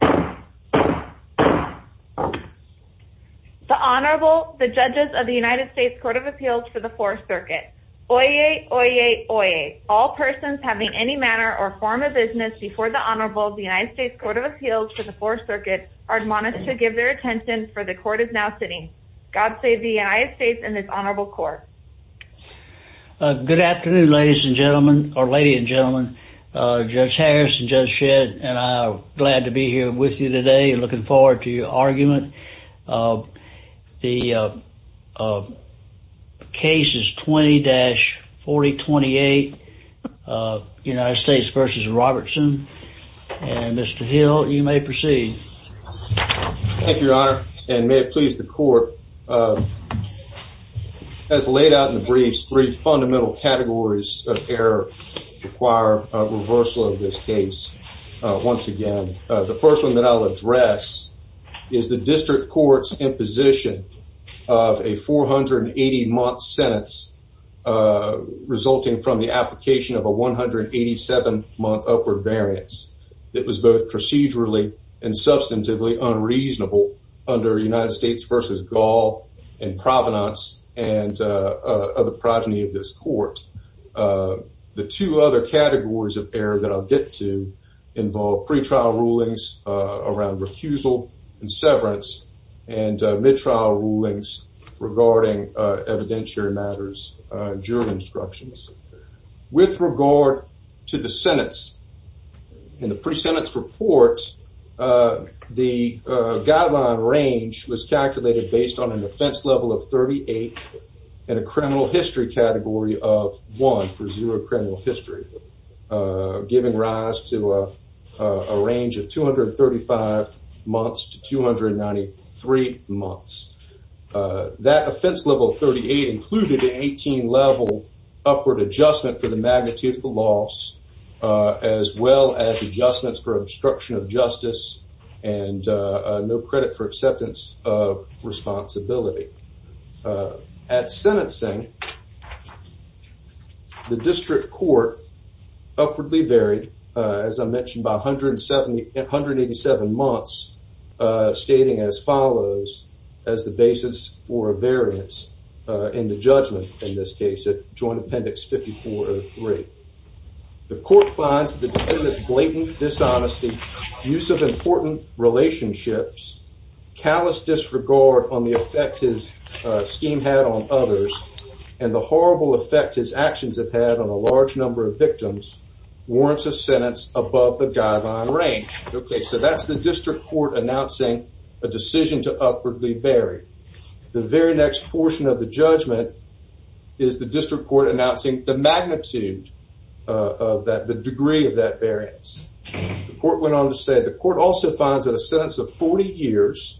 The Honorable, the Judges of the United States Court of Appeals for the 4th Circuit. Oyez, oyez, oyez. All persons having any manner or form of business before the Honorable of the United States Court of Appeals for the 4th Circuit are admonished to give their attention for the Court is now sitting. God save the United States and this Honorable Court. Good afternoon ladies and gentlemen, or lady and gentlemen, Judge Harris and Judge Shedd and I are glad to be here with you today and looking forward to your argument. The case is 20-4028, United States v. Robertson. And Mr. Hill, you may proceed. Thank you, Your Honor, and may it please the Court. As laid out in the briefs, three fundamental categories of error require a reversal of this case once again. The first one that I'll address is the District Court's imposition of a 480-month sentence resulting from the application of a 187-month upward variance that was both procedurally and substantively unreasonable under United States v. Gall and Provenance and of the progeny of this Court. The two other categories of error that I'll get to involve pretrial rulings around recusal and severance and mid-trial rulings regarding evidentiary matters, jury instructions. With regard to the sentence, in the pre-sentence report, the guideline range was calculated based on an offense level of 38 and a criminal history category of 1 for zero criminal history, giving rise to a range of 235 months to 293 months. That offense level 38 included an 18-level upward adjustment for the magnitude of the loss as well as adjustments for obstruction of justice and no credit for acceptance of responsibility. At sentencing, the District Court upwardly varied, as I mentioned, by 187 months, stating as follows as the basis for a variance in the judgment in this case at Joint Appendix 5403. The Court finds the defendant's use of important relationships, callous disregard on the effect his scheme had on others, and the horrible effect his actions have had on a large number of victims warrants a sentence above the guideline range. Okay, so that's the District Court announcing a decision to upwardly vary. The very next portion of the judgment is the District Court announcing the magnitude of that, the degree of that variance. The Court went on to say the Court also finds that a sentence of 40 years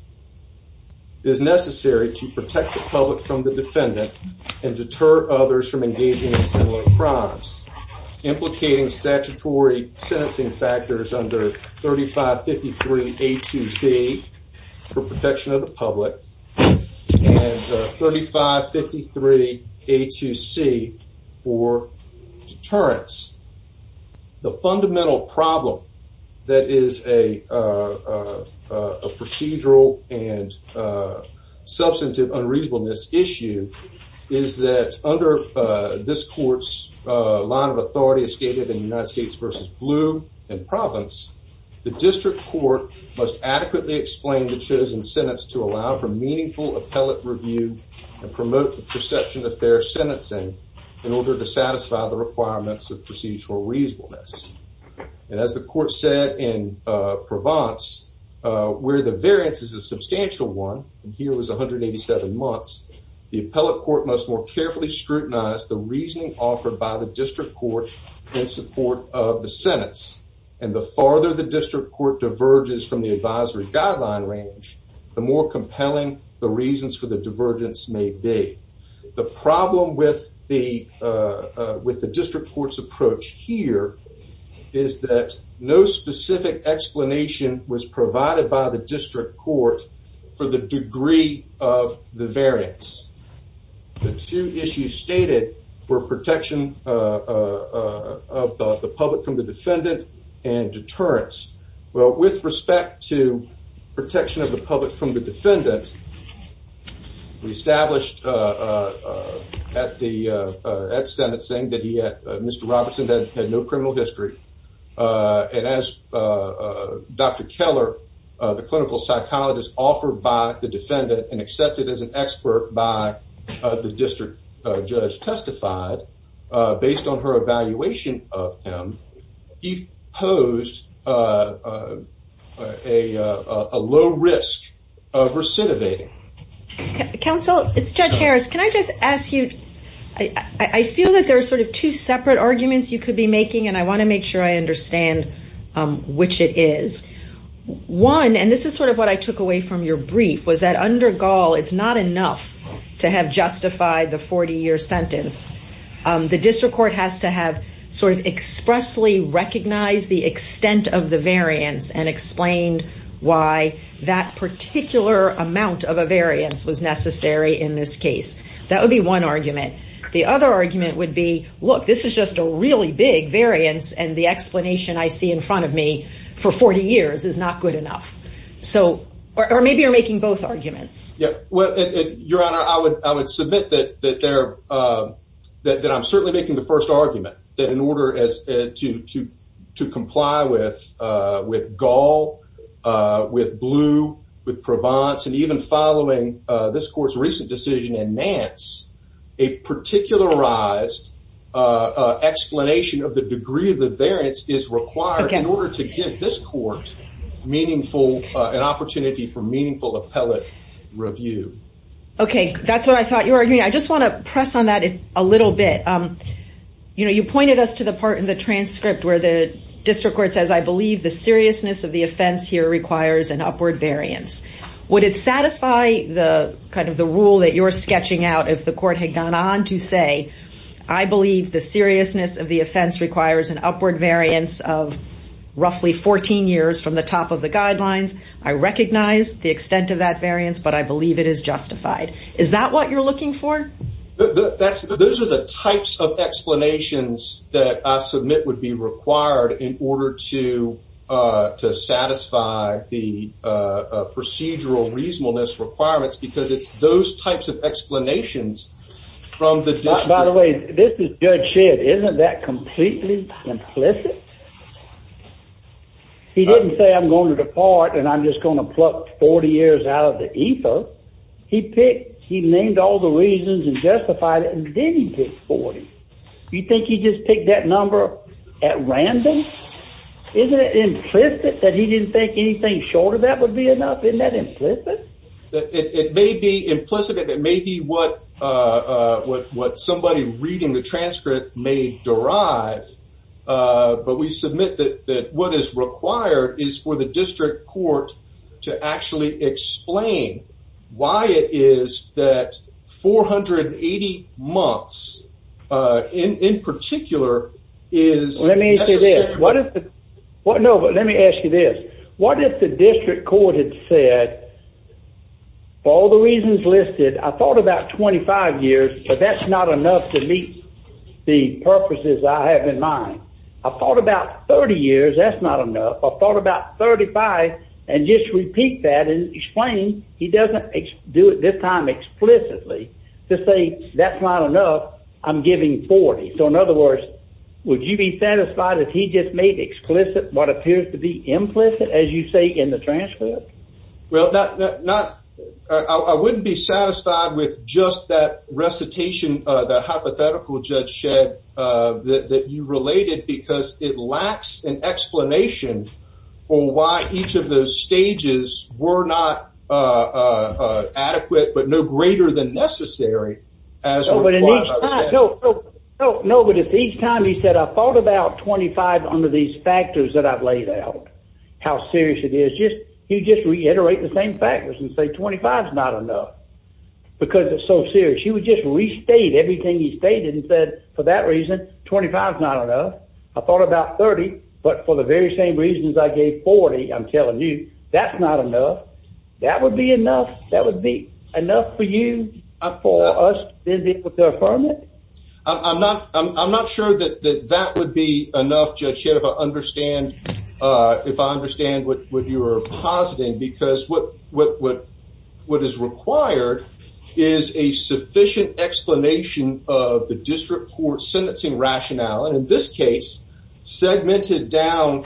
is necessary to protect the public from the defendant and deter others from engaging in similar crimes, implicating statutory sentencing factors under 3553A2B for protection of the public and 3553A2C for deterrence. The fundamental problem that is a procedural and substantive unreasonableness issue is that under this Court's line of authority as stated in United States v. Blue and Province, the District Court must adequately explain the chosen sentence to allow for meaningful appellate review and promote the perception of fair sentencing in order to satisfy the requirements of procedural reasonableness. And as the Court said in Provence, where the variance is a substantial one, and here was 187 months, the appellate court must more carefully scrutinize the reasoning offered by the District Court in support of the sentence. And the farther the District Court diverges from the defendant, the greater the risk of divergence may be. The problem with the District Court's approach here is that no specific explanation was provided by the District Court for the degree of the variance. The two issues stated were protection of the public from the defendant and deterrence. Well, with respect to protection of the public from the defendant, we established at Senate saying that Mr. Robertson had no criminal history. And as Dr. Keller, the clinical psychologist offered by the defendant and accepted as an expert by the district judge testified, based on her evaluation of him, he posed a low risk of recidivating. Counsel, it's Judge Harris. Can I just ask you, I feel that there are sort of two separate arguments you could be making, and I want to make sure I understand which it is. One, and this is sort of what I took away from your brief, was that under Gaul, it's not enough to have justified the 40-year sentence. The District Court has to have sort of expressly recognized the extent of the variance and explained why that particular amount of a variance was necessary in this case. That would be one argument. The other argument would be, look, this is just a really big variance, and the explanation I see in front of me for 40 years is not good enough. So, or maybe you're making both arguments. Yeah, well, Your Honor, I would submit that I'm certainly making the first argument that in order to comply with Gaul, with Blue, with Provence, and even following this court's recent decision in Nance, a particularized explanation of the degree of the variance is required in order to give this court meaningful, an opportunity for meaningful appellate review. Okay, that's what I thought you were arguing. I just want to press on that a little bit. You know, you pointed us to the part in the transcript where the District Court says, I believe the seriousness of the offense here requires an upward variance. Would it satisfy the kind of the rule that you're sketching out if the court had gone on to say, I believe the seriousness of the offense requires an upward variance of roughly 14 years from the top of the guidelines? I recognize the extent of that variance, but I believe it is justified. Is that what you're looking for? That's those are the types of explanations that I submit would be required in order to satisfy the procedural reasonableness requirements, because it's those types of explanations from the district. By the way, this is Judge Shedd, isn't that completely implicit? He didn't say I'm going to depart and I'm just going to pluck 40 years out of the EFA. He picked, he named all the reasons and justified it and then he picked 40. You think he just picked that number at random? Isn't it implicit that he didn't think anything shorter than that would be enough? Isn't that implicit? It may be implicit. It may be what what what somebody reading the transcript may derive. But we submit that that what is required is for the district court to actually explain why it is that 480 months in particular is what is what? No, but let me ask you this. What if the district court had said all the reasons listed, I thought about 25 years, but that's not enough to meet the purposes I have in mind. I thought about 30 years. That's not enough. I thought about 35 and just repeat that and explain. He decided he just made explicit what appears to be implicit, as you say, in the transcript. Well, not not, I wouldn't be satisfied with just that recitation of the hypothetical Judge Shedd that you related because it lacks an explanation for why each of those stages were not adequate, but no greater than necessary. As no, no, no, but it's each time he said, I thought about 25 under these factors that I've laid out, how serious it is just you just reiterate the same factors and say 25 is not enough. Because it's so serious, he would just restate everything he stated and said, for that reason, 25 is not enough. I thought about 30. But for the very same reasons, I gave 40. I'm telling you, that's not enough. That would be enough for you for us to be able to affirm it. I'm not, I'm not sure that that would be enough, Judge Shedd, if I understand, if I understand what you're positing. Because what is required is a sufficient explanation of the district court sentencing rationale, and in this case, segmented down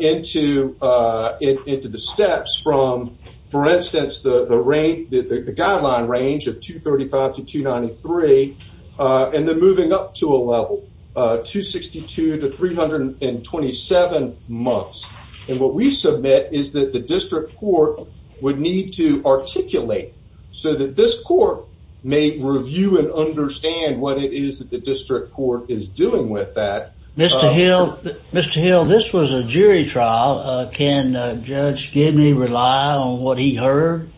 into the steps from, for the rank, the guideline range of 235 to 293. And then moving up to a level 262 to 327 months. And what we submit is that the district court would need to articulate so that this court may review and understand what it is that the district court is doing with that. Mr. Hill, Mr. Hill, this was a jury trial. Can Judge Gibney rely on what he heard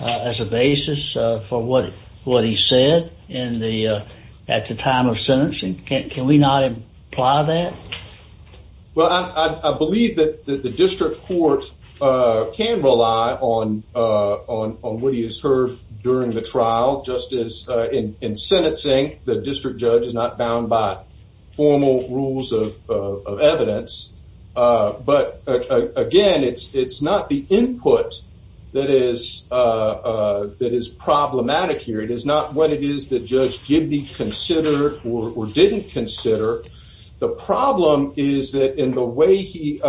as a basis for what what he said in the at the time of sentencing? Can we not imply that? Well, I believe that the district court can rely on on on what he has heard during the trial. Just as in in sentencing, the district judge is bound by formal rules of evidence. But again, it's it's not the input that is that is problematic here. It is not what it is that Judge Gibney considered or didn't consider. The problem is that in the way he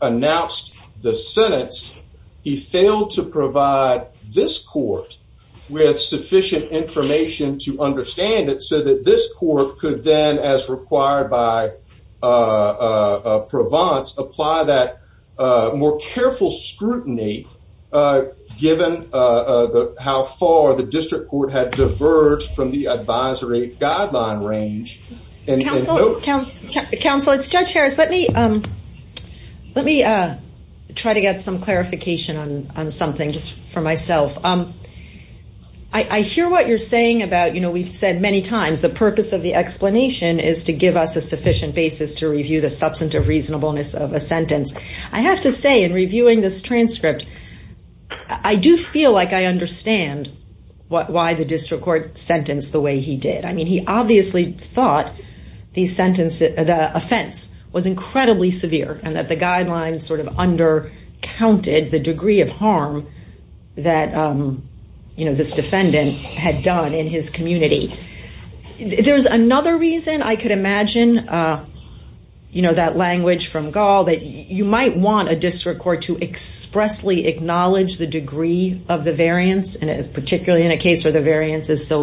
announced the sentence, he failed to provide this court with sufficient information to then, as required by Provence, apply that more careful scrutiny, given how far the district court had diverged from the advisory guideline range. Counsel, it's Judge Harris. Let me let me try to get some clarification on something just for myself. I hear what you're saying about, you know, we've heard the explanation is to give us a sufficient basis to review the substantive reasonableness of a sentence. I have to say in reviewing this transcript, I do feel like I understand why the district court sentenced the way he did. I mean, he obviously thought the sentence, the offense was incredibly severe and that the guidelines sort of undercounted the degree of harm that this defendant had done in his community. There's another reason I could imagine, you know, that language from Gall that you might want a district court to expressly acknowledge the degree of the variance, and particularly in a case where the variance is so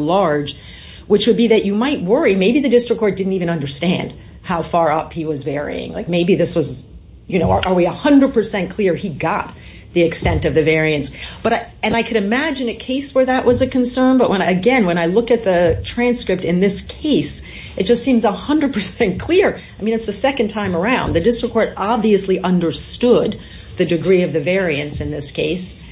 you know, are we 100 percent clear he got the extent of the variance? But and I could imagine a case where that was a concern. But when I again, when I look at the transcript in this case, it just seems 100 percent clear. I mean, it's the second time around. The district court obviously understood the degree of the variance in this case.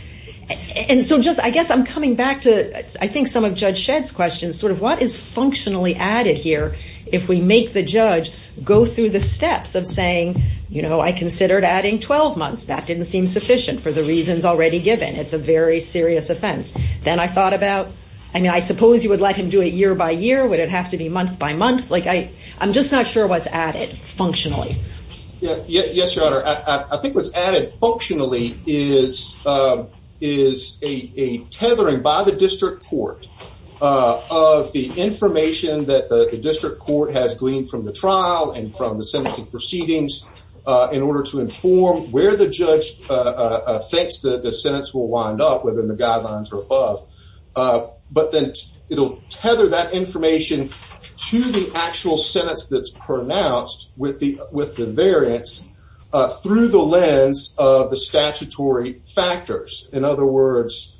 And so just I guess I'm coming back to I think some of Judge Shedd's questions sort of what is functionally added here if we make the judge go through the steps of saying, you know, I considered adding 12 months. That didn't seem sufficient for the reasons already given. It's a very serious offense. Then I thought about, I mean, I suppose you would like him to do it year by year. Would it have to be month by month? Like I, I'm just not sure what's added functionally. Yes, Your Honor. I think what's added functionally is, is a tethering by the district court of the information that the district court has gleaned from the trial and from the sentencing proceedings in order to inform where the judge thinks that the sentence will wind up within the guidelines or above. But then it'll tether that information to the actual sentence that's pronounced with the, with the variance through the lens of the statutory factors. In other words,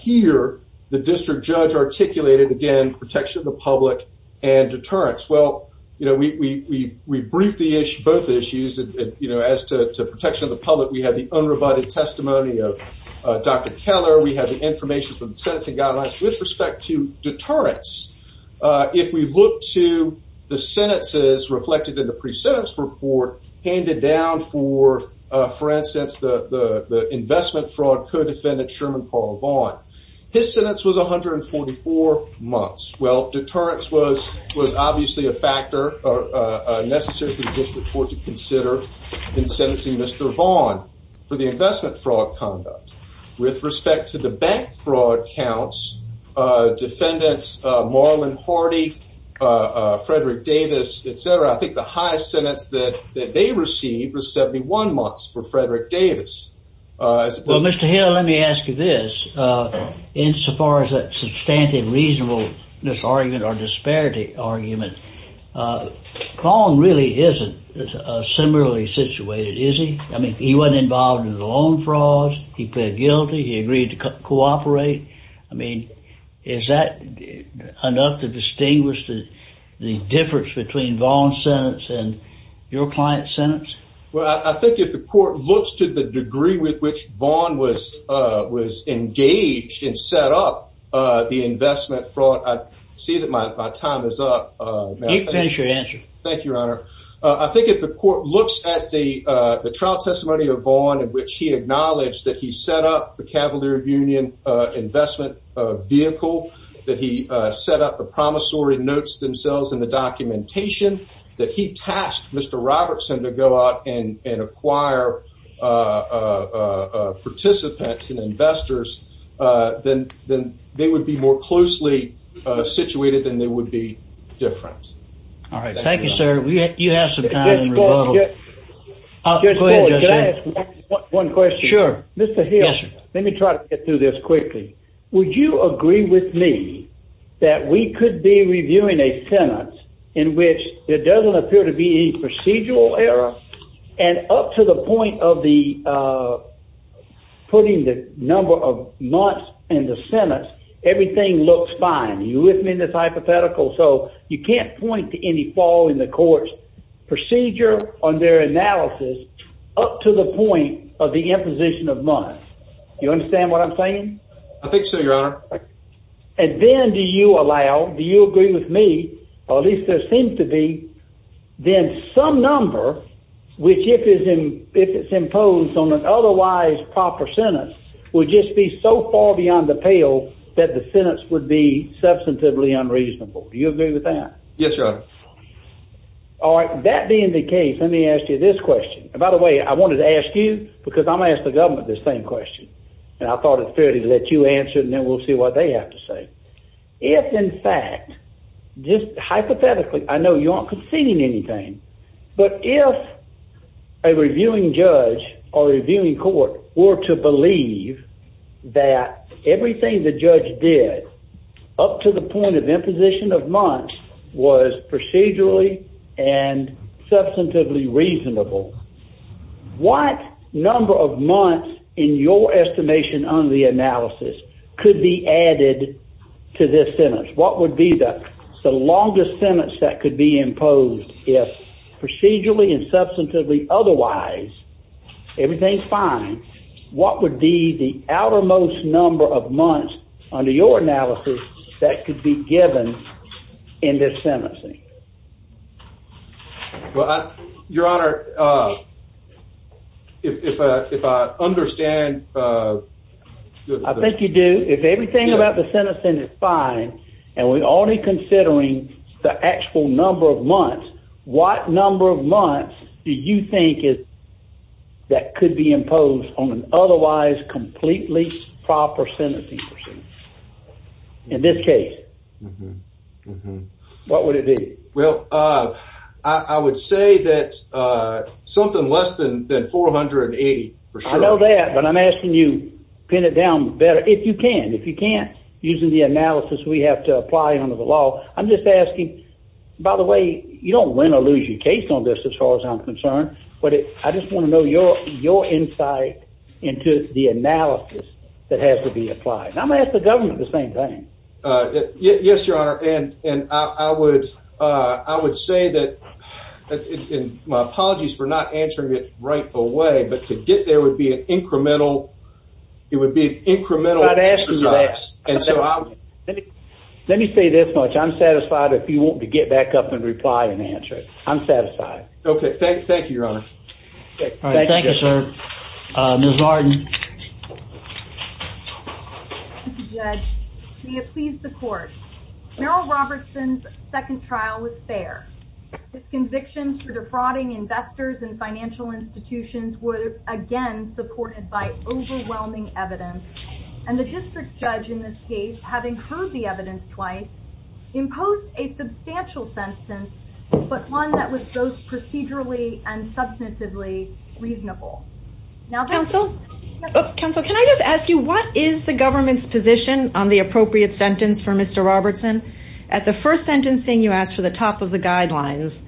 here, the district judge articulated, again, protection of the public and deterrence. Well, you know, we, we, we briefed the issue, both issues, you know, as to protection of the public. We have the unrebutted testimony of Dr. Keller. We have the information from the sentencing guidelines with respect to the sentences reflected in the pre-sentence report handed down for, for instance, the, the, the investment fraud co-defendant Sherman Paul Vaughn. His sentence was 144 months. Well, deterrence was, was obviously a factor necessary for the district court to consider in sentencing Mr. Vaughn for the investment fraud conduct. With respect to the bank fraud counts, defendants, Marlon Horty, Frederick Davis, et cetera, I think the highest sentence that, that they received was 71 months for Frederick Davis, as opposed to- Well, Mr. Hill, let me ask you this. Insofar as that substantive reasonableness argument or disparity argument, Vaughn really isn't similarly situated, is he? I mean, he wasn't involved in the loan fraud. He pled guilty. He agreed to cooperate. I mean, is that enough to distinguish the difference between Vaughn's sentence and your client's sentence? Well, I think if the court looks to the degree with which Vaughn was, was engaged and set up the investment fraud, I see that my time is up. You can finish your answer. Thank you, Your Honor. I think if the court looks at the trial testimony of Vaughn, in which he acknowledged that he set up the Cavalier Union investment vehicle, that he set up the promissory notes themselves in the documentation, that he tasked Mr. Robertson to go out and acquire participants and investors, then they would be more closely situated than they would be different. All right. Thank you, sir. You have some time in rebuttal. Just one question. Mr. Hill, let me try to get through this quickly. Would you agree with me that we could be reviewing a sentence in which there doesn't appear to be any procedural error, and up to the point of putting the number of months in the sentence, everything looks fine? Are you with me in this hypothetical? So you can't point to any flaw in the court's procedure on their analysis up to the point of the imposition of months. Do you understand what I'm saying? I think so, Your Honor. And then do you allow, do you agree with me, or at least there seems to be, then some number, which if it's imposed on an otherwise proper sentence, would just be so far beyond the pale that the sentence would be substantively unreasonable. Do you agree with that? Yes, Your Honor. All right. That being the case, let me ask you this question. By the way, I wanted to ask you, because I'm going to ask the government this same question. And I thought it's fair to let you answer, and then we'll see what they have to say. If, in fact, just hypothetically, I know you aren't conceding anything, but if a reviewing judge or a reviewing court were to believe that everything the judge did up to the point of imposition of months was procedurally and substantively reasonable, what number of months, in your estimation under the analysis, could be added to this sentence? What would be the longest sentence that could be imposed if procedurally and substantively otherwise everything's fine, what would be the outermost number of months under your analysis that could be given in this sentencing? Well, Your Honor, if I understand... I think you do. If everything about the sentencing is fine, and we're already considering the actual number of months, what number of months do you think that could be imposed on an otherwise completely proper sentencing? In this case, what would it be? Well, I would say that something less than 480, for sure. I know that, but I'm asking you to pin it down better, if you can. If you can't, using the analysis we have to apply under the law. I'm just asking, by the way, you don't win or lose your case on this, as far as I'm concerned, but I just want to know your insight into the analysis that has to be applied. And I'm going to ask the government the same thing. Yes, Your Honor, and I would say that, and my apologies for not answering it right away, but to get there would be an incremental, it would be an incremental exercise. Let me say this much, I'm satisfied if you want to get back up and reply and answer it. I'm satisfied. Okay, thank you, Your Honor. Thank you, sir. Ms. Martin. Thank you, Judge. May it please the Court. Merrill Robertson's second trial was fair. His convictions for defrauding investors and financial institutions were, again, supported by overwhelming evidence. And the district judge in this case, having heard the evidence twice, imposed a substantial sentence, but one that was both procedurally and substantively reasonable. Counsel, can I just ask you, what is the government's position on the appropriate sentence for Mr. Robertson? At the first sentencing, you asked for the top of the guidelines.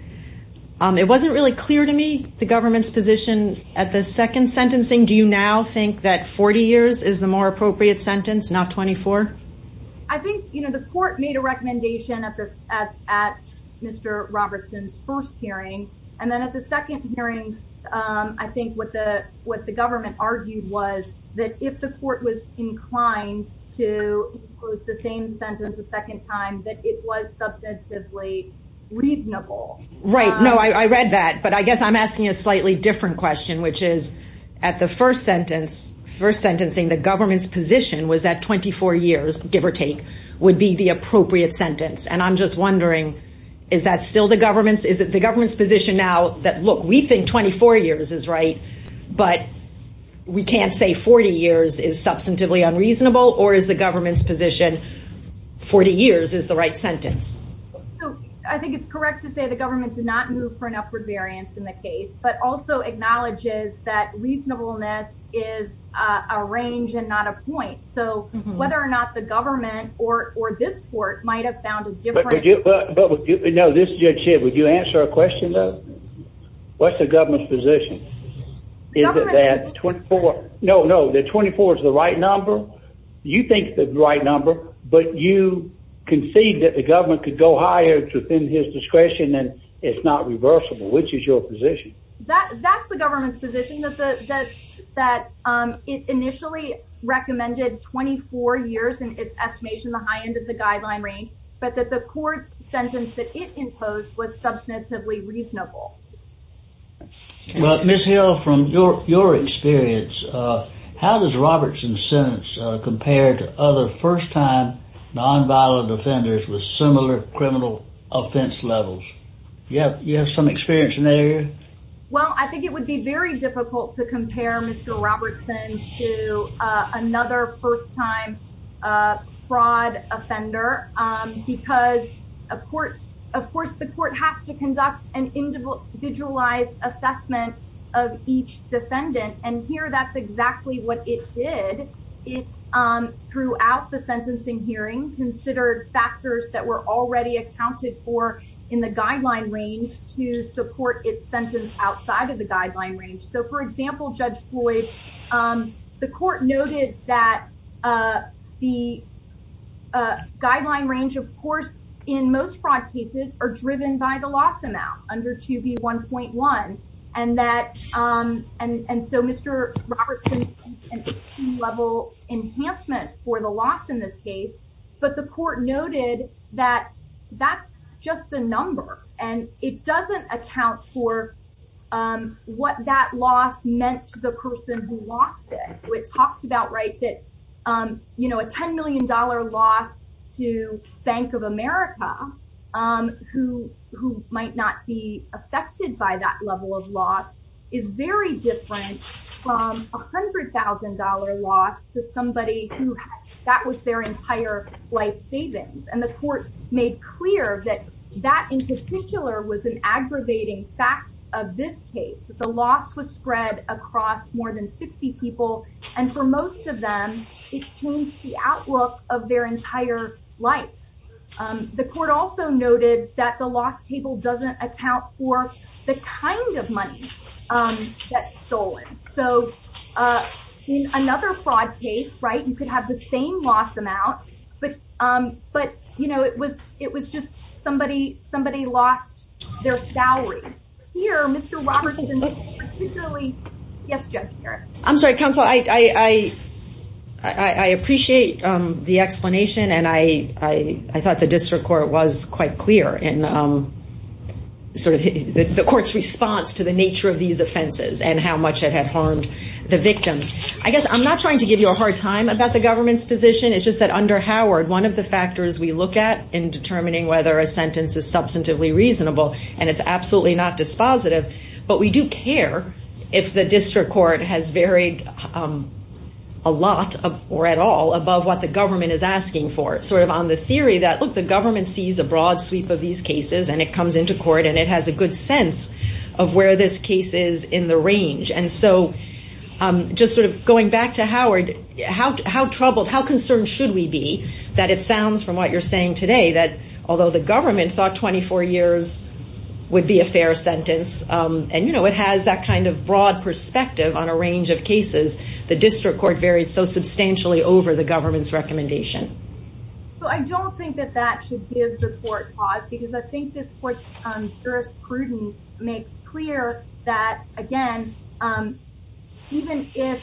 It wasn't really clear to me the government's position at the second sentencing. Do you now think that 40 years is the more appropriate sentence, not 24? I think, you know, the Court made a recommendation at Mr. Robertson's first hearing. And then at the second hearing, I think what the government argued was that if the Court was inclined to impose the same sentence a second time, that it was substantively reasonable. Right. No, I read that. But I guess I'm asking a slightly different question, which is, at the first sentence, first sentencing, the government's position was that 24 years, give or take, would be the appropriate sentence. And I'm just wondering, is that still the government's – is it the government's position now that, look, we think 24 years is right, but we can't say 40 years is substantively unreasonable? Or is the government's position 40 years is the right sentence? So, I think it's correct to say the government did not move for an upward variance in the case, but also acknowledges that reasonableness is a range and not a point. So, whether or not the government or this Court might have found a different – But would you – no, this is Judge Shib. Would you answer our question, though? What's the government's position? Is it that 24 – Is it that the government could go higher within his discretion and it's not reversible? Which is your position? That's the government's position, that it initially recommended 24 years in its estimation, the high end of the guideline range, but that the Court's sentence that it imposed was substantively reasonable. Well, Ms. Hill, from your experience, how does Robertson's sentence compare to other first-time nonviolent offenders with similar criminal offense levels? You have some experience in that area? Well, I think it would be very difficult to compare Mr. Robertson to another first-time fraud offender because, of course, the Court has to conduct an individualized assessment of each defendant. And here, that's exactly what it did. It, throughout the sentencing hearing, considered factors that were already accounted for in the guideline range to support its sentence outside of the guideline range. So, for example, Judge Floyd, the Court noted that the guideline range, of course, in most fraud cases, are driven by the loss amount under 2B1.1. And that, and so Mr. Robertson, level enhancement for the loss in this case, but the Court noted that that's just a number and it doesn't account for what that loss meant to the person who lost it. So it talked about, right, that, you know, a $10 million loss to Bank of America, who might not be affected by that level of loss, is very different from a $100,000 loss to somebody who, that was their entire life savings. And the Court made clear that that, in particular, was an aggravating fact of this case, that the loss was spread across more than 60 people. And for most of them, it changed the outlook of their entire life. The Court also noted that the loss table doesn't account for the kind of money that's stolen. So, in another fraud case, right, you could have the same loss amount, but, you know, it was just somebody lost their salary. Here, Mr. Robertson, particularly, yes, Judge Harris. I'm sorry, Counsel, I appreciate the explanation and I thought the District Court was quite clear in sort of the Court's response to the nature of these offenses and how much it had harmed the victims. I guess I'm not trying to give you a hard time about the government's position, it's just that under Howard, one of the factors we look at in determining whether a sentence is substantively reasonable, and it's absolutely not dispositive, but we do care if the District Court has varied a lot or at all above what the government is asking for. Sort of on the theory that, look, the government sees a broad sweep of these cases and it comes into court and it has a good sense of where this case is in the range. And so, just sort of going back to Howard, how troubled, how concerned should we be that it sounds, from what you're saying today, that although the government thought 24 years would be a fair sentence, and, you know, it has that kind of broad perspective on a range of cases, the District Court varied so substantially over the government's recommendation? So, I don't think that that should give the Court pause because I think this Court's jurisprudence makes clear that, again, even if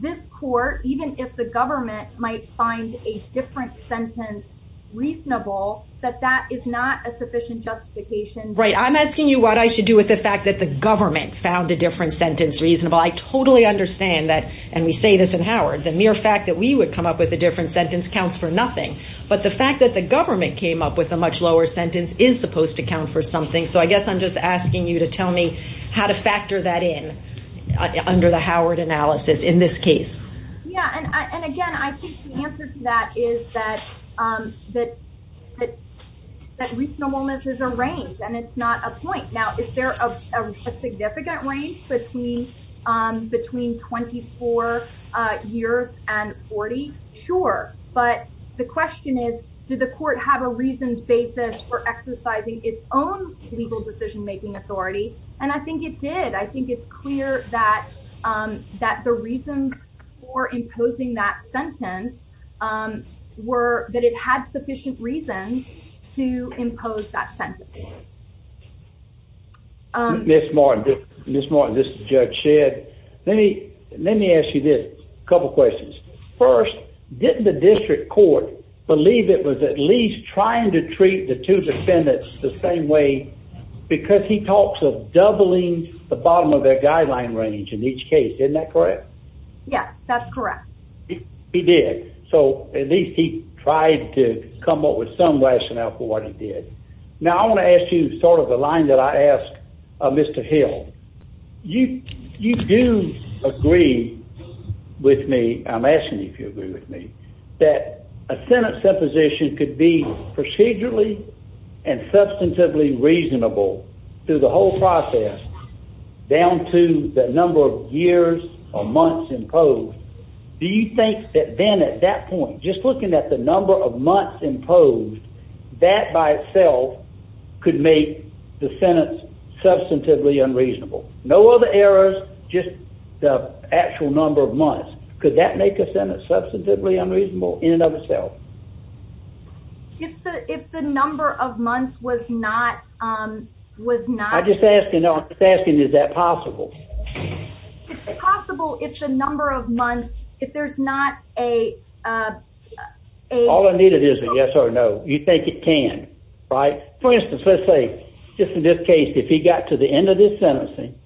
this Court, even if the government might find a different sentence reasonable, that that is not a sufficient justification. Right. I'm asking you what I should do with the fact that the government found a different sentence reasonable. I totally understand that, and we say this in Howard, the mere fact that we would come up with a different sentence counts for nothing. But the fact that the government came up with a much lower sentence is supposed to count for something. So, I guess I'm just asking you to tell me how to factor that in under the Howard analysis in this case. Yeah, and again, I think the answer to that is that reasonableness is a range, and it's not a point. Now, is there a significant range between 24 years and 40? Sure. But the question is, did the Court have a reasoned basis for exercising its own legal decision-making authority? And I think it did. I think it's clear that the reasons for imposing that sentence were that it had sufficient reasons to impose that sentence. Ms. Martin, this is Judge Shedd. Let me ask you this, a couple questions. First, didn't the District Court believe it was at least trying to treat the two defendants the same way because he talks of doubling the bottom of their guideline range in each case. Isn't that correct? Yes, that's correct. He did. So, at least he tried to come up with some rationale for what he did. Now, I want to ask you sort of the line that I asked Mr. Hill. You do agree with me, I'm asking if you agree with me, that a sentence supposition could be procedurally and substantively reasonable through the whole process down to the number of years or months imposed. Do you think that then at that point, just looking at the number of months imposed, that by itself could make the sentence substantively unreasonable? No other errors, just the actual number of months. Could that make a sentence substantively unreasonable in and of itself? If the number of months was not... I'm just asking, is that possible? It's possible if the number of months, if there's not a... All I need is a yes or no. You think it can, right? For instance, let's say, just in this case, if he got to the end of this sentencing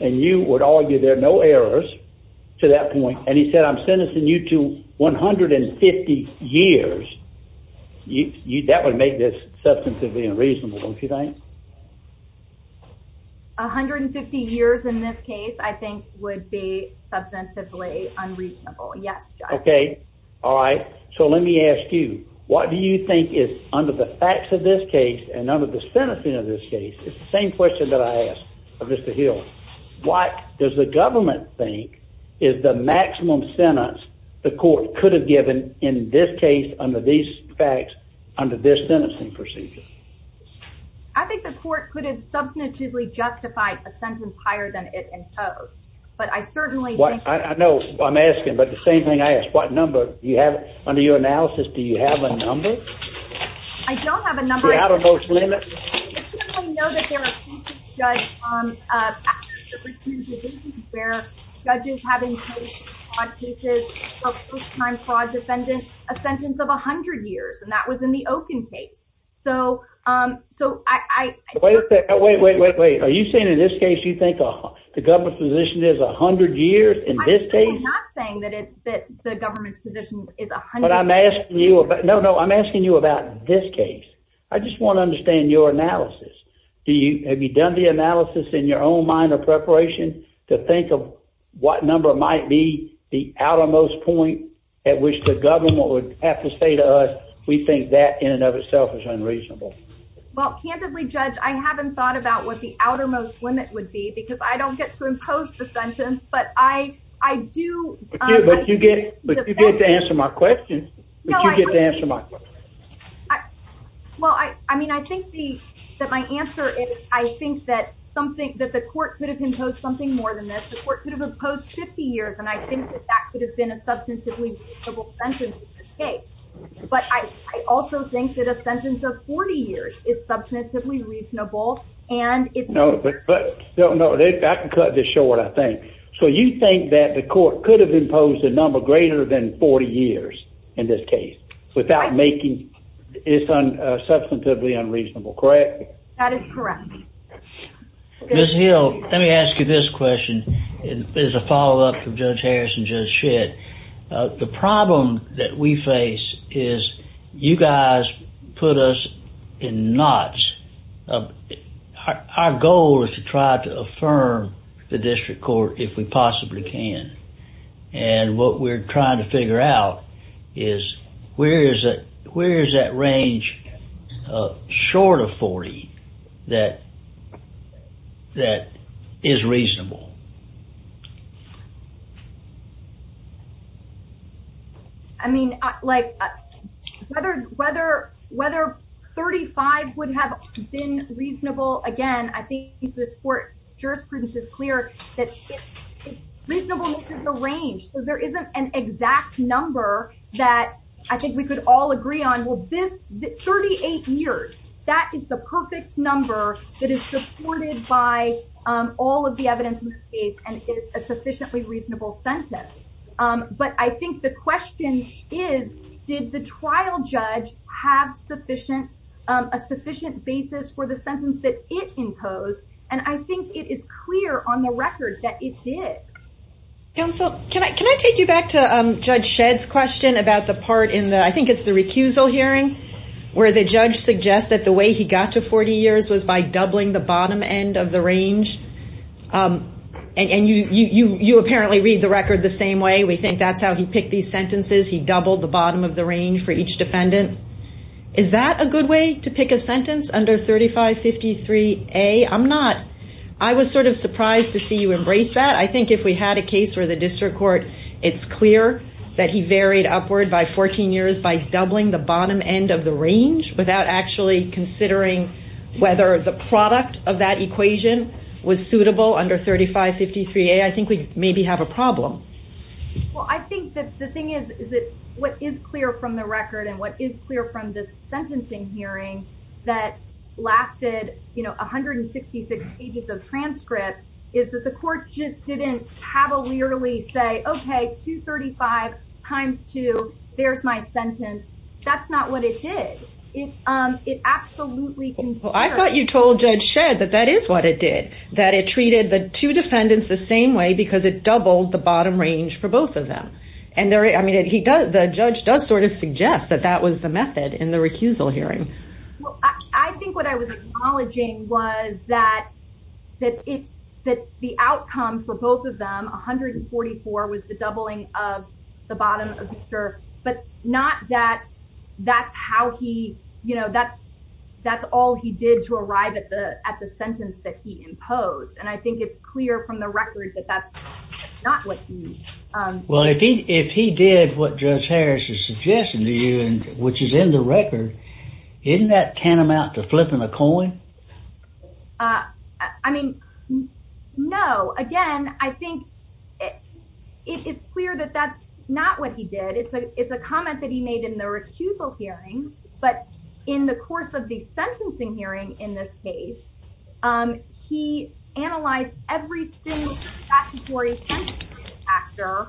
and you would argue there are no errors to that point, and he said I'm sentencing you to 150 years, that would make this substantively unreasonable, don't you think? 150 years in this case, I think, would be substantively unreasonable. Yes, John. Okay. All right. So let me ask you, what do you think is under the facts of this case and under the sentencing of this case, it's the same question that I asked of Mr. Hill, what does the government think is the maximum sentence the court could have given in this case, under these facts, under this sentencing procedure? I think the court could have substantively justified a sentence higher than it imposed. But I certainly think... I know, I'm asking, but the same thing I asked. What number do you have? Under your analysis, do you have a number? I don't have a number. You're out of those limits? I know that there are cases where judges have imposed on cases of first-time fraud defendants a sentence of 100 years, and that was in the Okin case. So I... Wait a second. Wait, wait, wait, wait. Are you saying in this case you think the government's position is 100 years in this case? I'm certainly not saying that the government's position is 100... But I'm asking you about... No, no, I'm asking you about this case. I just want to understand your analysis. Have you done the analysis in your own mind or preparation to think of what number might be the outermost point at which the government would have to say to us, we think that in and of itself is unreasonable? Well, candidly, Judge, I haven't thought about what the outermost limit would be because I don't get to impose the sentence, but I do... But you get to answer my question. But you get to answer my question. Well, I mean, I think that my answer is I think that something... that the court could have imposed something more than this. The court could have imposed 50 years, and I think that that could have been a substantively reasonable sentence in this case. But I also think that a sentence of 40 years is substantively reasonable, and it's... No, but... No, no, I can cut this short, I think. So you think that the court could have imposed a number greater than 40 years in this case without making... It's substantively unreasonable, correct? That is correct. Ms. Hill, let me ask you this question as a follow-up to Judge Harris and Judge Schitt. The problem that we face is you guys put us in knots. Our goal is to try to affirm the district court if we possibly can. And what we're trying to figure out is where is that range short of 40 that is reasonable? I mean, like, whether 35 would have been reasonable, again, I think this court's jurisprudence is clear that it's reasonable within the range. So there isn't an exact number that I think we could all agree on. Well, this... 38 years, that is the perfect number that is supported by all of the evidence in this case and is a sufficiently reasonable sentence. But I think the question is, did the trial judge have a sufficient basis for the sentence that it imposed? And I think it is clear on the record that it did. Counsel, can I take you back to Judge Shedd's question about the part in the... I think it's the recusal hearing where the judge suggests that the way he got to 40 years was by doubling the bottom end of the range. And you apparently read the record the same way. We think that's how he picked these sentences. He doubled the bottom of the range for each defendant. Is that a good way to pick a sentence under 3553A? I'm not... I was sort of surprised to see you embrace that. I think if we had a case where the district court, it's clear that he varied upward by 14 years by doubling the bottom end of the range without actually considering whether the product of that equation was suitable under 3553A, I think we'd maybe have a problem. Well, I think that the thing is, is that what is clear from the record and what is clear from this sentencing hearing that lasted, you know, 166 pages of transcript is that the court just didn't cavalierly say, OK, 235 times 2, there's my sentence. That's not what it did. It absolutely... Well, I thought you told Judge Shedd that that is what it did, that it treated the two defendants the same way because it doubled the bottom range for both of them. I mean, the judge does sort of suggest that that was the method in the recusal hearing. Well, I think what I was acknowledging was that the outcome for both of them, 144 was the doubling of the bottom of the curve, but not that that's how he... ...did to arrive at the sentence that he imposed. And I think it's clear from the record that that's not what he... Well, if he did what Judge Harris is suggesting to you and which is in the record, isn't that tantamount to flipping a coin? I mean, no. Again, I think it's clear that that's not what he did. It's a comment that he made in the recusal hearing, but in the course of the sentencing hearing, in this case, he analyzed every single statutory sentencing actor.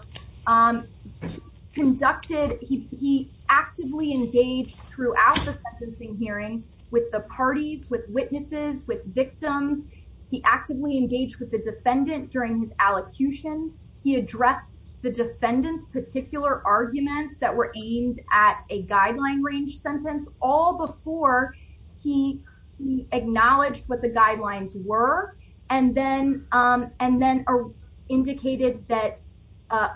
He actively engaged throughout the sentencing hearing with the parties, with witnesses, with victims. He actively engaged with the defendant during his allocution. He addressed the defendant's particular arguments that were aimed at a guideline range sentence all before he acknowledged what the guidelines were and then indicated that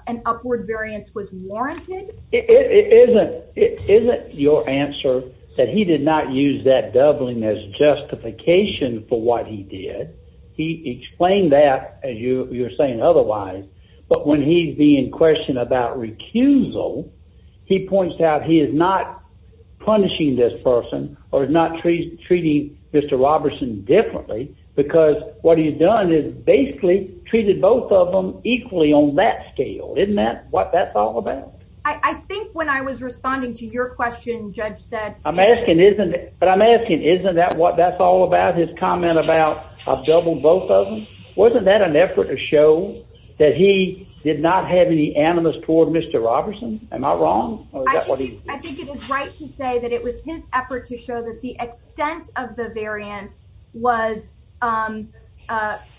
an upward variance was warranted. Isn't your answer that he did not use that doubling as justification for what he did? He explained that, as you were saying otherwise, but when he's being questioned about recusal, he points out he is not punishing this person or is not treating Mr. Robertson differently because what he's done is basically treated both of them equally on that scale. Isn't that what that's all about? I think when I was responding to your question, Judge said... But I'm asking, isn't that what that's all about, his comment about a double both of them? Wasn't that an effort to show that he did not have any animus toward Mr. Robertson? Am I wrong? I think it is right to say that it was his effort to show that the extent of the variance was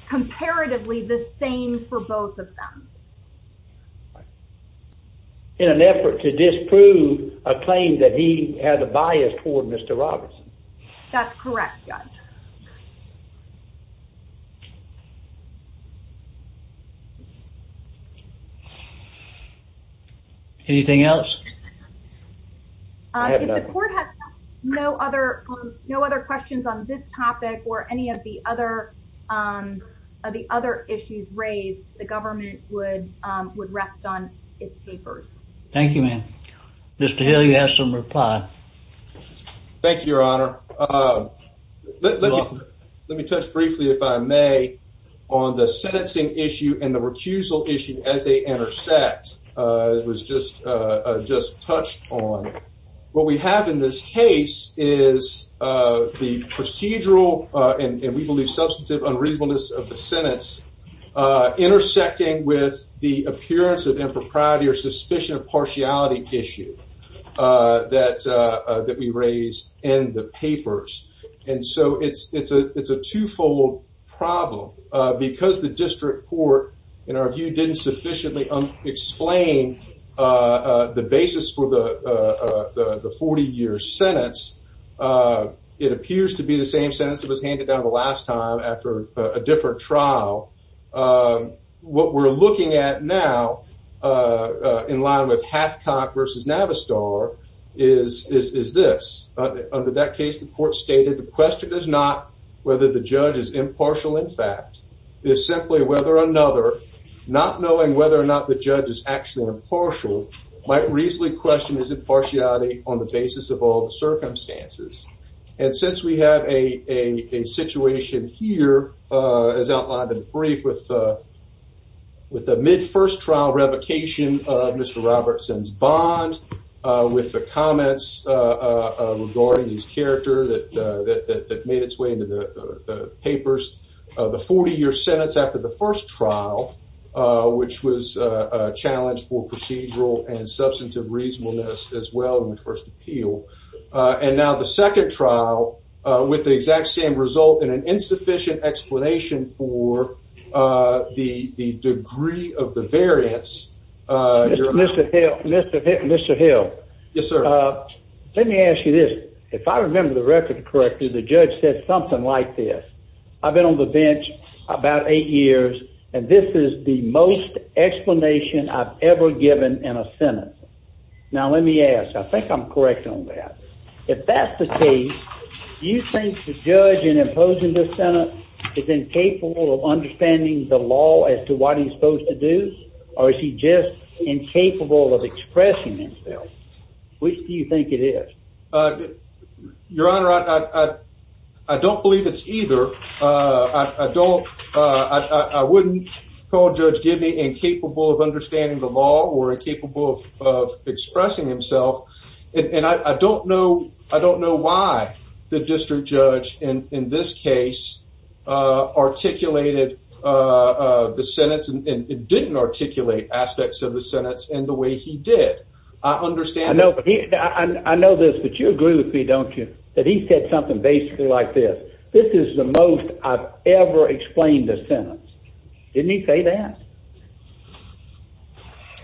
comparatively the same for both of them. In an effort to disprove a claim That's correct, Judge. Thank you. Anything else? I have nothing. If the court has no other questions on this topic or any of the other issues raised, the government would rest on its papers. Thank you, ma'am. Mr. Hill, you have some reply. Thank you, Your Honor. Let me touch briefly, if I may, on the sentencing issue and the recusal issue as they intersect. It was just touched on. What we have in this case is the procedural and we believe substantive unreasonableness of the sentence intersecting with the appearance of impropriety or suspicion of partiality issue that we raised in the papers. And so it's a two-fold problem. Because the district court, in our view, didn't sufficiently explain the basis for the 40-year sentence, it appears to be the same sentence that was handed down the last time after a different trial. What we're looking at now in line with Hathcock v. Navistar is this. Under that case, the court stated the question is not whether the judge is impartial in fact, it's simply whether another, not knowing whether or not the judge is actually impartial, might reasonably question his impartiality on the basis of all the circumstances. And since we have a situation here as outlined in the brief with the mid-first trial revocation of Mr. Robertson's bond with the comments regarding his character that made its way into the papers, the 40-year sentence after the first trial which was a challenge for procedural and substantive reasonableness as well in the first appeal and now the second trial with the exact same result and an insufficient explanation for the degree of the variance. Mr. Hill, let me ask you this. If I remember the record correctly, the judge said something like this. I've been on the bench about eight years and this is the most explanation I've ever given in a sentence. Now let me ask, I think I'm correct on that. If that's the case, do you think the judge in imposing this sentence is incapable of understanding the law as to what he's supposed to do or is he just incapable of expressing himself? Which do you think it is? Your Honor, I don't believe it's either. I don't, I wouldn't call Judge Gibney incapable of understanding the law or incapable of expressing himself. And I don't know, I don't know why the district judge in this case articulated the sentence and didn't articulate aspects of the sentence in the way he did. I understand that. I know this, but you agree with me, don't you? That he said something basically like this. This is the most I've ever explained a sentence. Didn't he say that?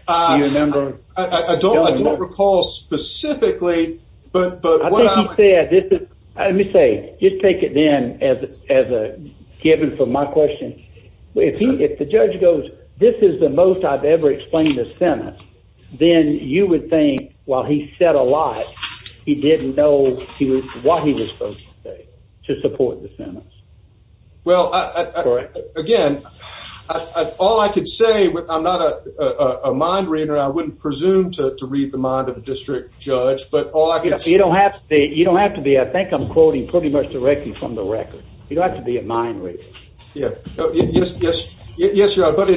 Do you remember? I don't recall specifically, but what I would... Let me say, just take it then as a given for my question. If the judge goes, this is the most I've ever explained a sentence, then you would think while he said a lot, he didn't know what he was supposed to say to support the sentence. Well, again, all I could say, I'm not a mind reader, I wouldn't presume to read the mind of a district judge, but all I could say... You don't have to be. I think I'm quoting pretty much directly from the record. You don't have to be a mind reader. Yes, Your Honor, but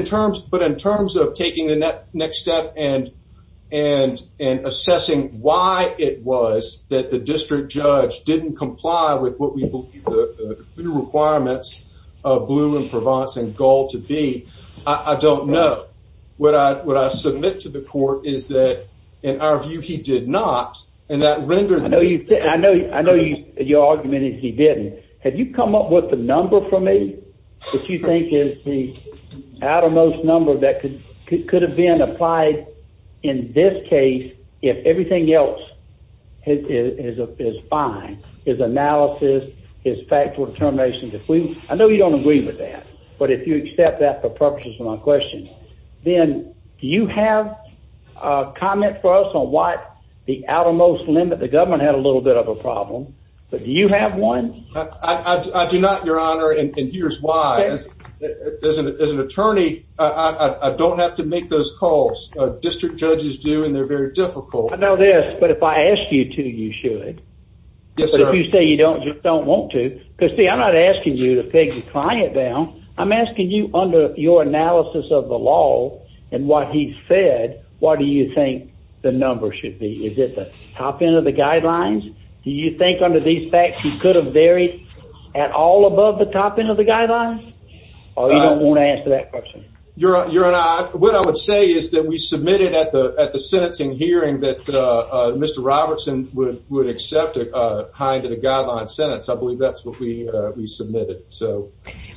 in terms of taking the next step and assessing why it was that the district judge didn't comply with what we believe the requirements of Blue and Provence and Gold to be, I don't know. What I submit to the court is that in our view, he did not and that rendered me... I know your argument is he didn't. Have you come up with a number for me that you think is the outermost number that could have been applied in this case if everything else is fine, is analysis, is factual determination. I know you don't agree with that, but if you accept that for purposes of my question, then do you have a comment for us on what the outermost limit the government had a little bit of a problem? Do you have one? I do not, Your Honor, and here's why. As an attorney, I don't have to make those calls. District judges do and they're very difficult. I know this, but if I ask you to, you should. If you say you don't, you don't want to. See, I'm not asking you to take the client down. I'm asking you under your analysis of the law and what he said, what do you think the number should be? Is it the top end of the guidelines? Do you think under these facts he could have varied at all above the top end of the guidelines? Or you don't want to answer that question? Your Honor, what I would say is that we submitted at the sentencing hearing that Mr. Robertson would accept a high end of the guidelines sentence. I believe that's what we submitted. That's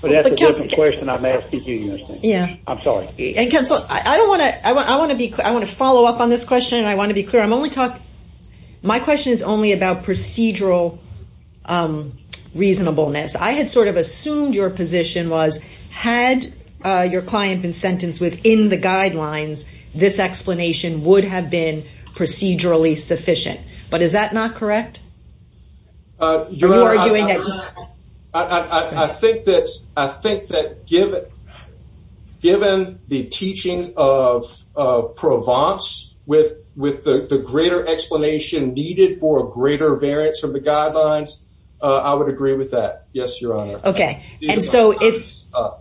a different question I'm asking you. I'm sorry. I want to follow up on this question and I want to be clear. My question is only about procedural reasonableness. I had sort of assumed your position was had your client been sentenced within the guidelines, this explanation would have been procedurally sufficient. But is that not correct? Your Honor, I think that given the teachings of Provence with the greater explanation needed for a greater variance of the guidelines, I would agree with that. Yes, Your Honor. If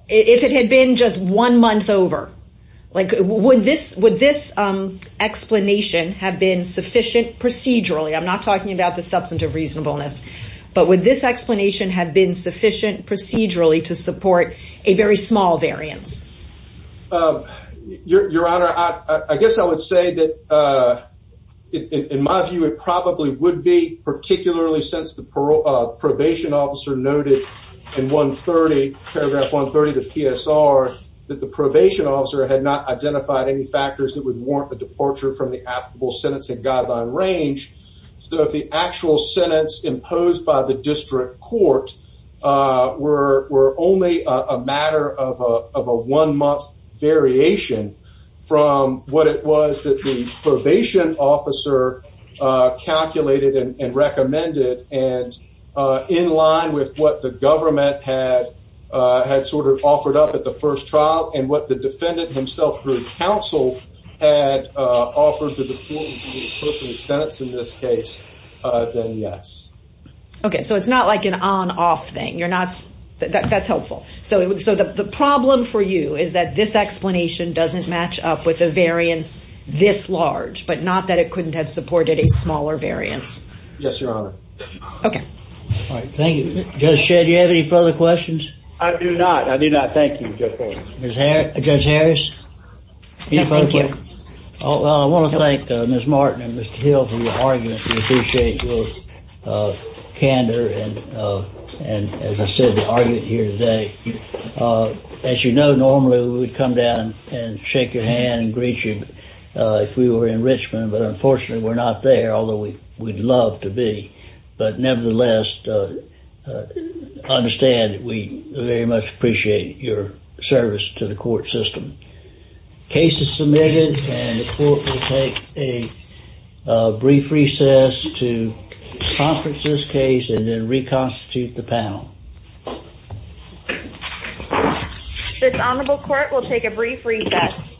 it had been just one month over, would this explanation have been sufficient procedurally? I'm not talking about the substantive reasonableness. But would this explanation have been sufficient procedurally to support a very small variance? Your Honor, I guess I would say that in my view, it probably would be, particularly since the probation officer noted in paragraph 130 of the PSR that the probation officer had not identified any factors that would warrant a departure from the applicable sentencing guideline range. So if the actual sentence imposed by the defendant were only a matter of a one-month variation from what it was that the probation officer calculated and recommended and in line with what the government had sort of offered up at the first trial and what the defendant himself through counsel had offered to the court in this case, then yes. Okay, so it's not like an on-off thing. That's helpful. So the problem for you is that this explanation doesn't match up with a variance this large, but not that it couldn't have supported a smaller variance. Yes, Your Honor. Thank you. Judge Shedd, do you have any further questions? I do not. I do not. Thank you. Judge Harris? Any further questions? I want to thank Ms. Martin and Mr. Hill for the argument. We appreciate your candor and as I said, the argument here today. As you know, normally we would come down and shake your hand and greet you if we were in Richmond, but unfortunately we're not there, although we'd love to be. But nevertheless, I understand that we very much appreciate your service to the court system. The case is submitted and the court will take a brief recess to conference this case and then reconstitute the panel. The Honorable Court will take a brief recess.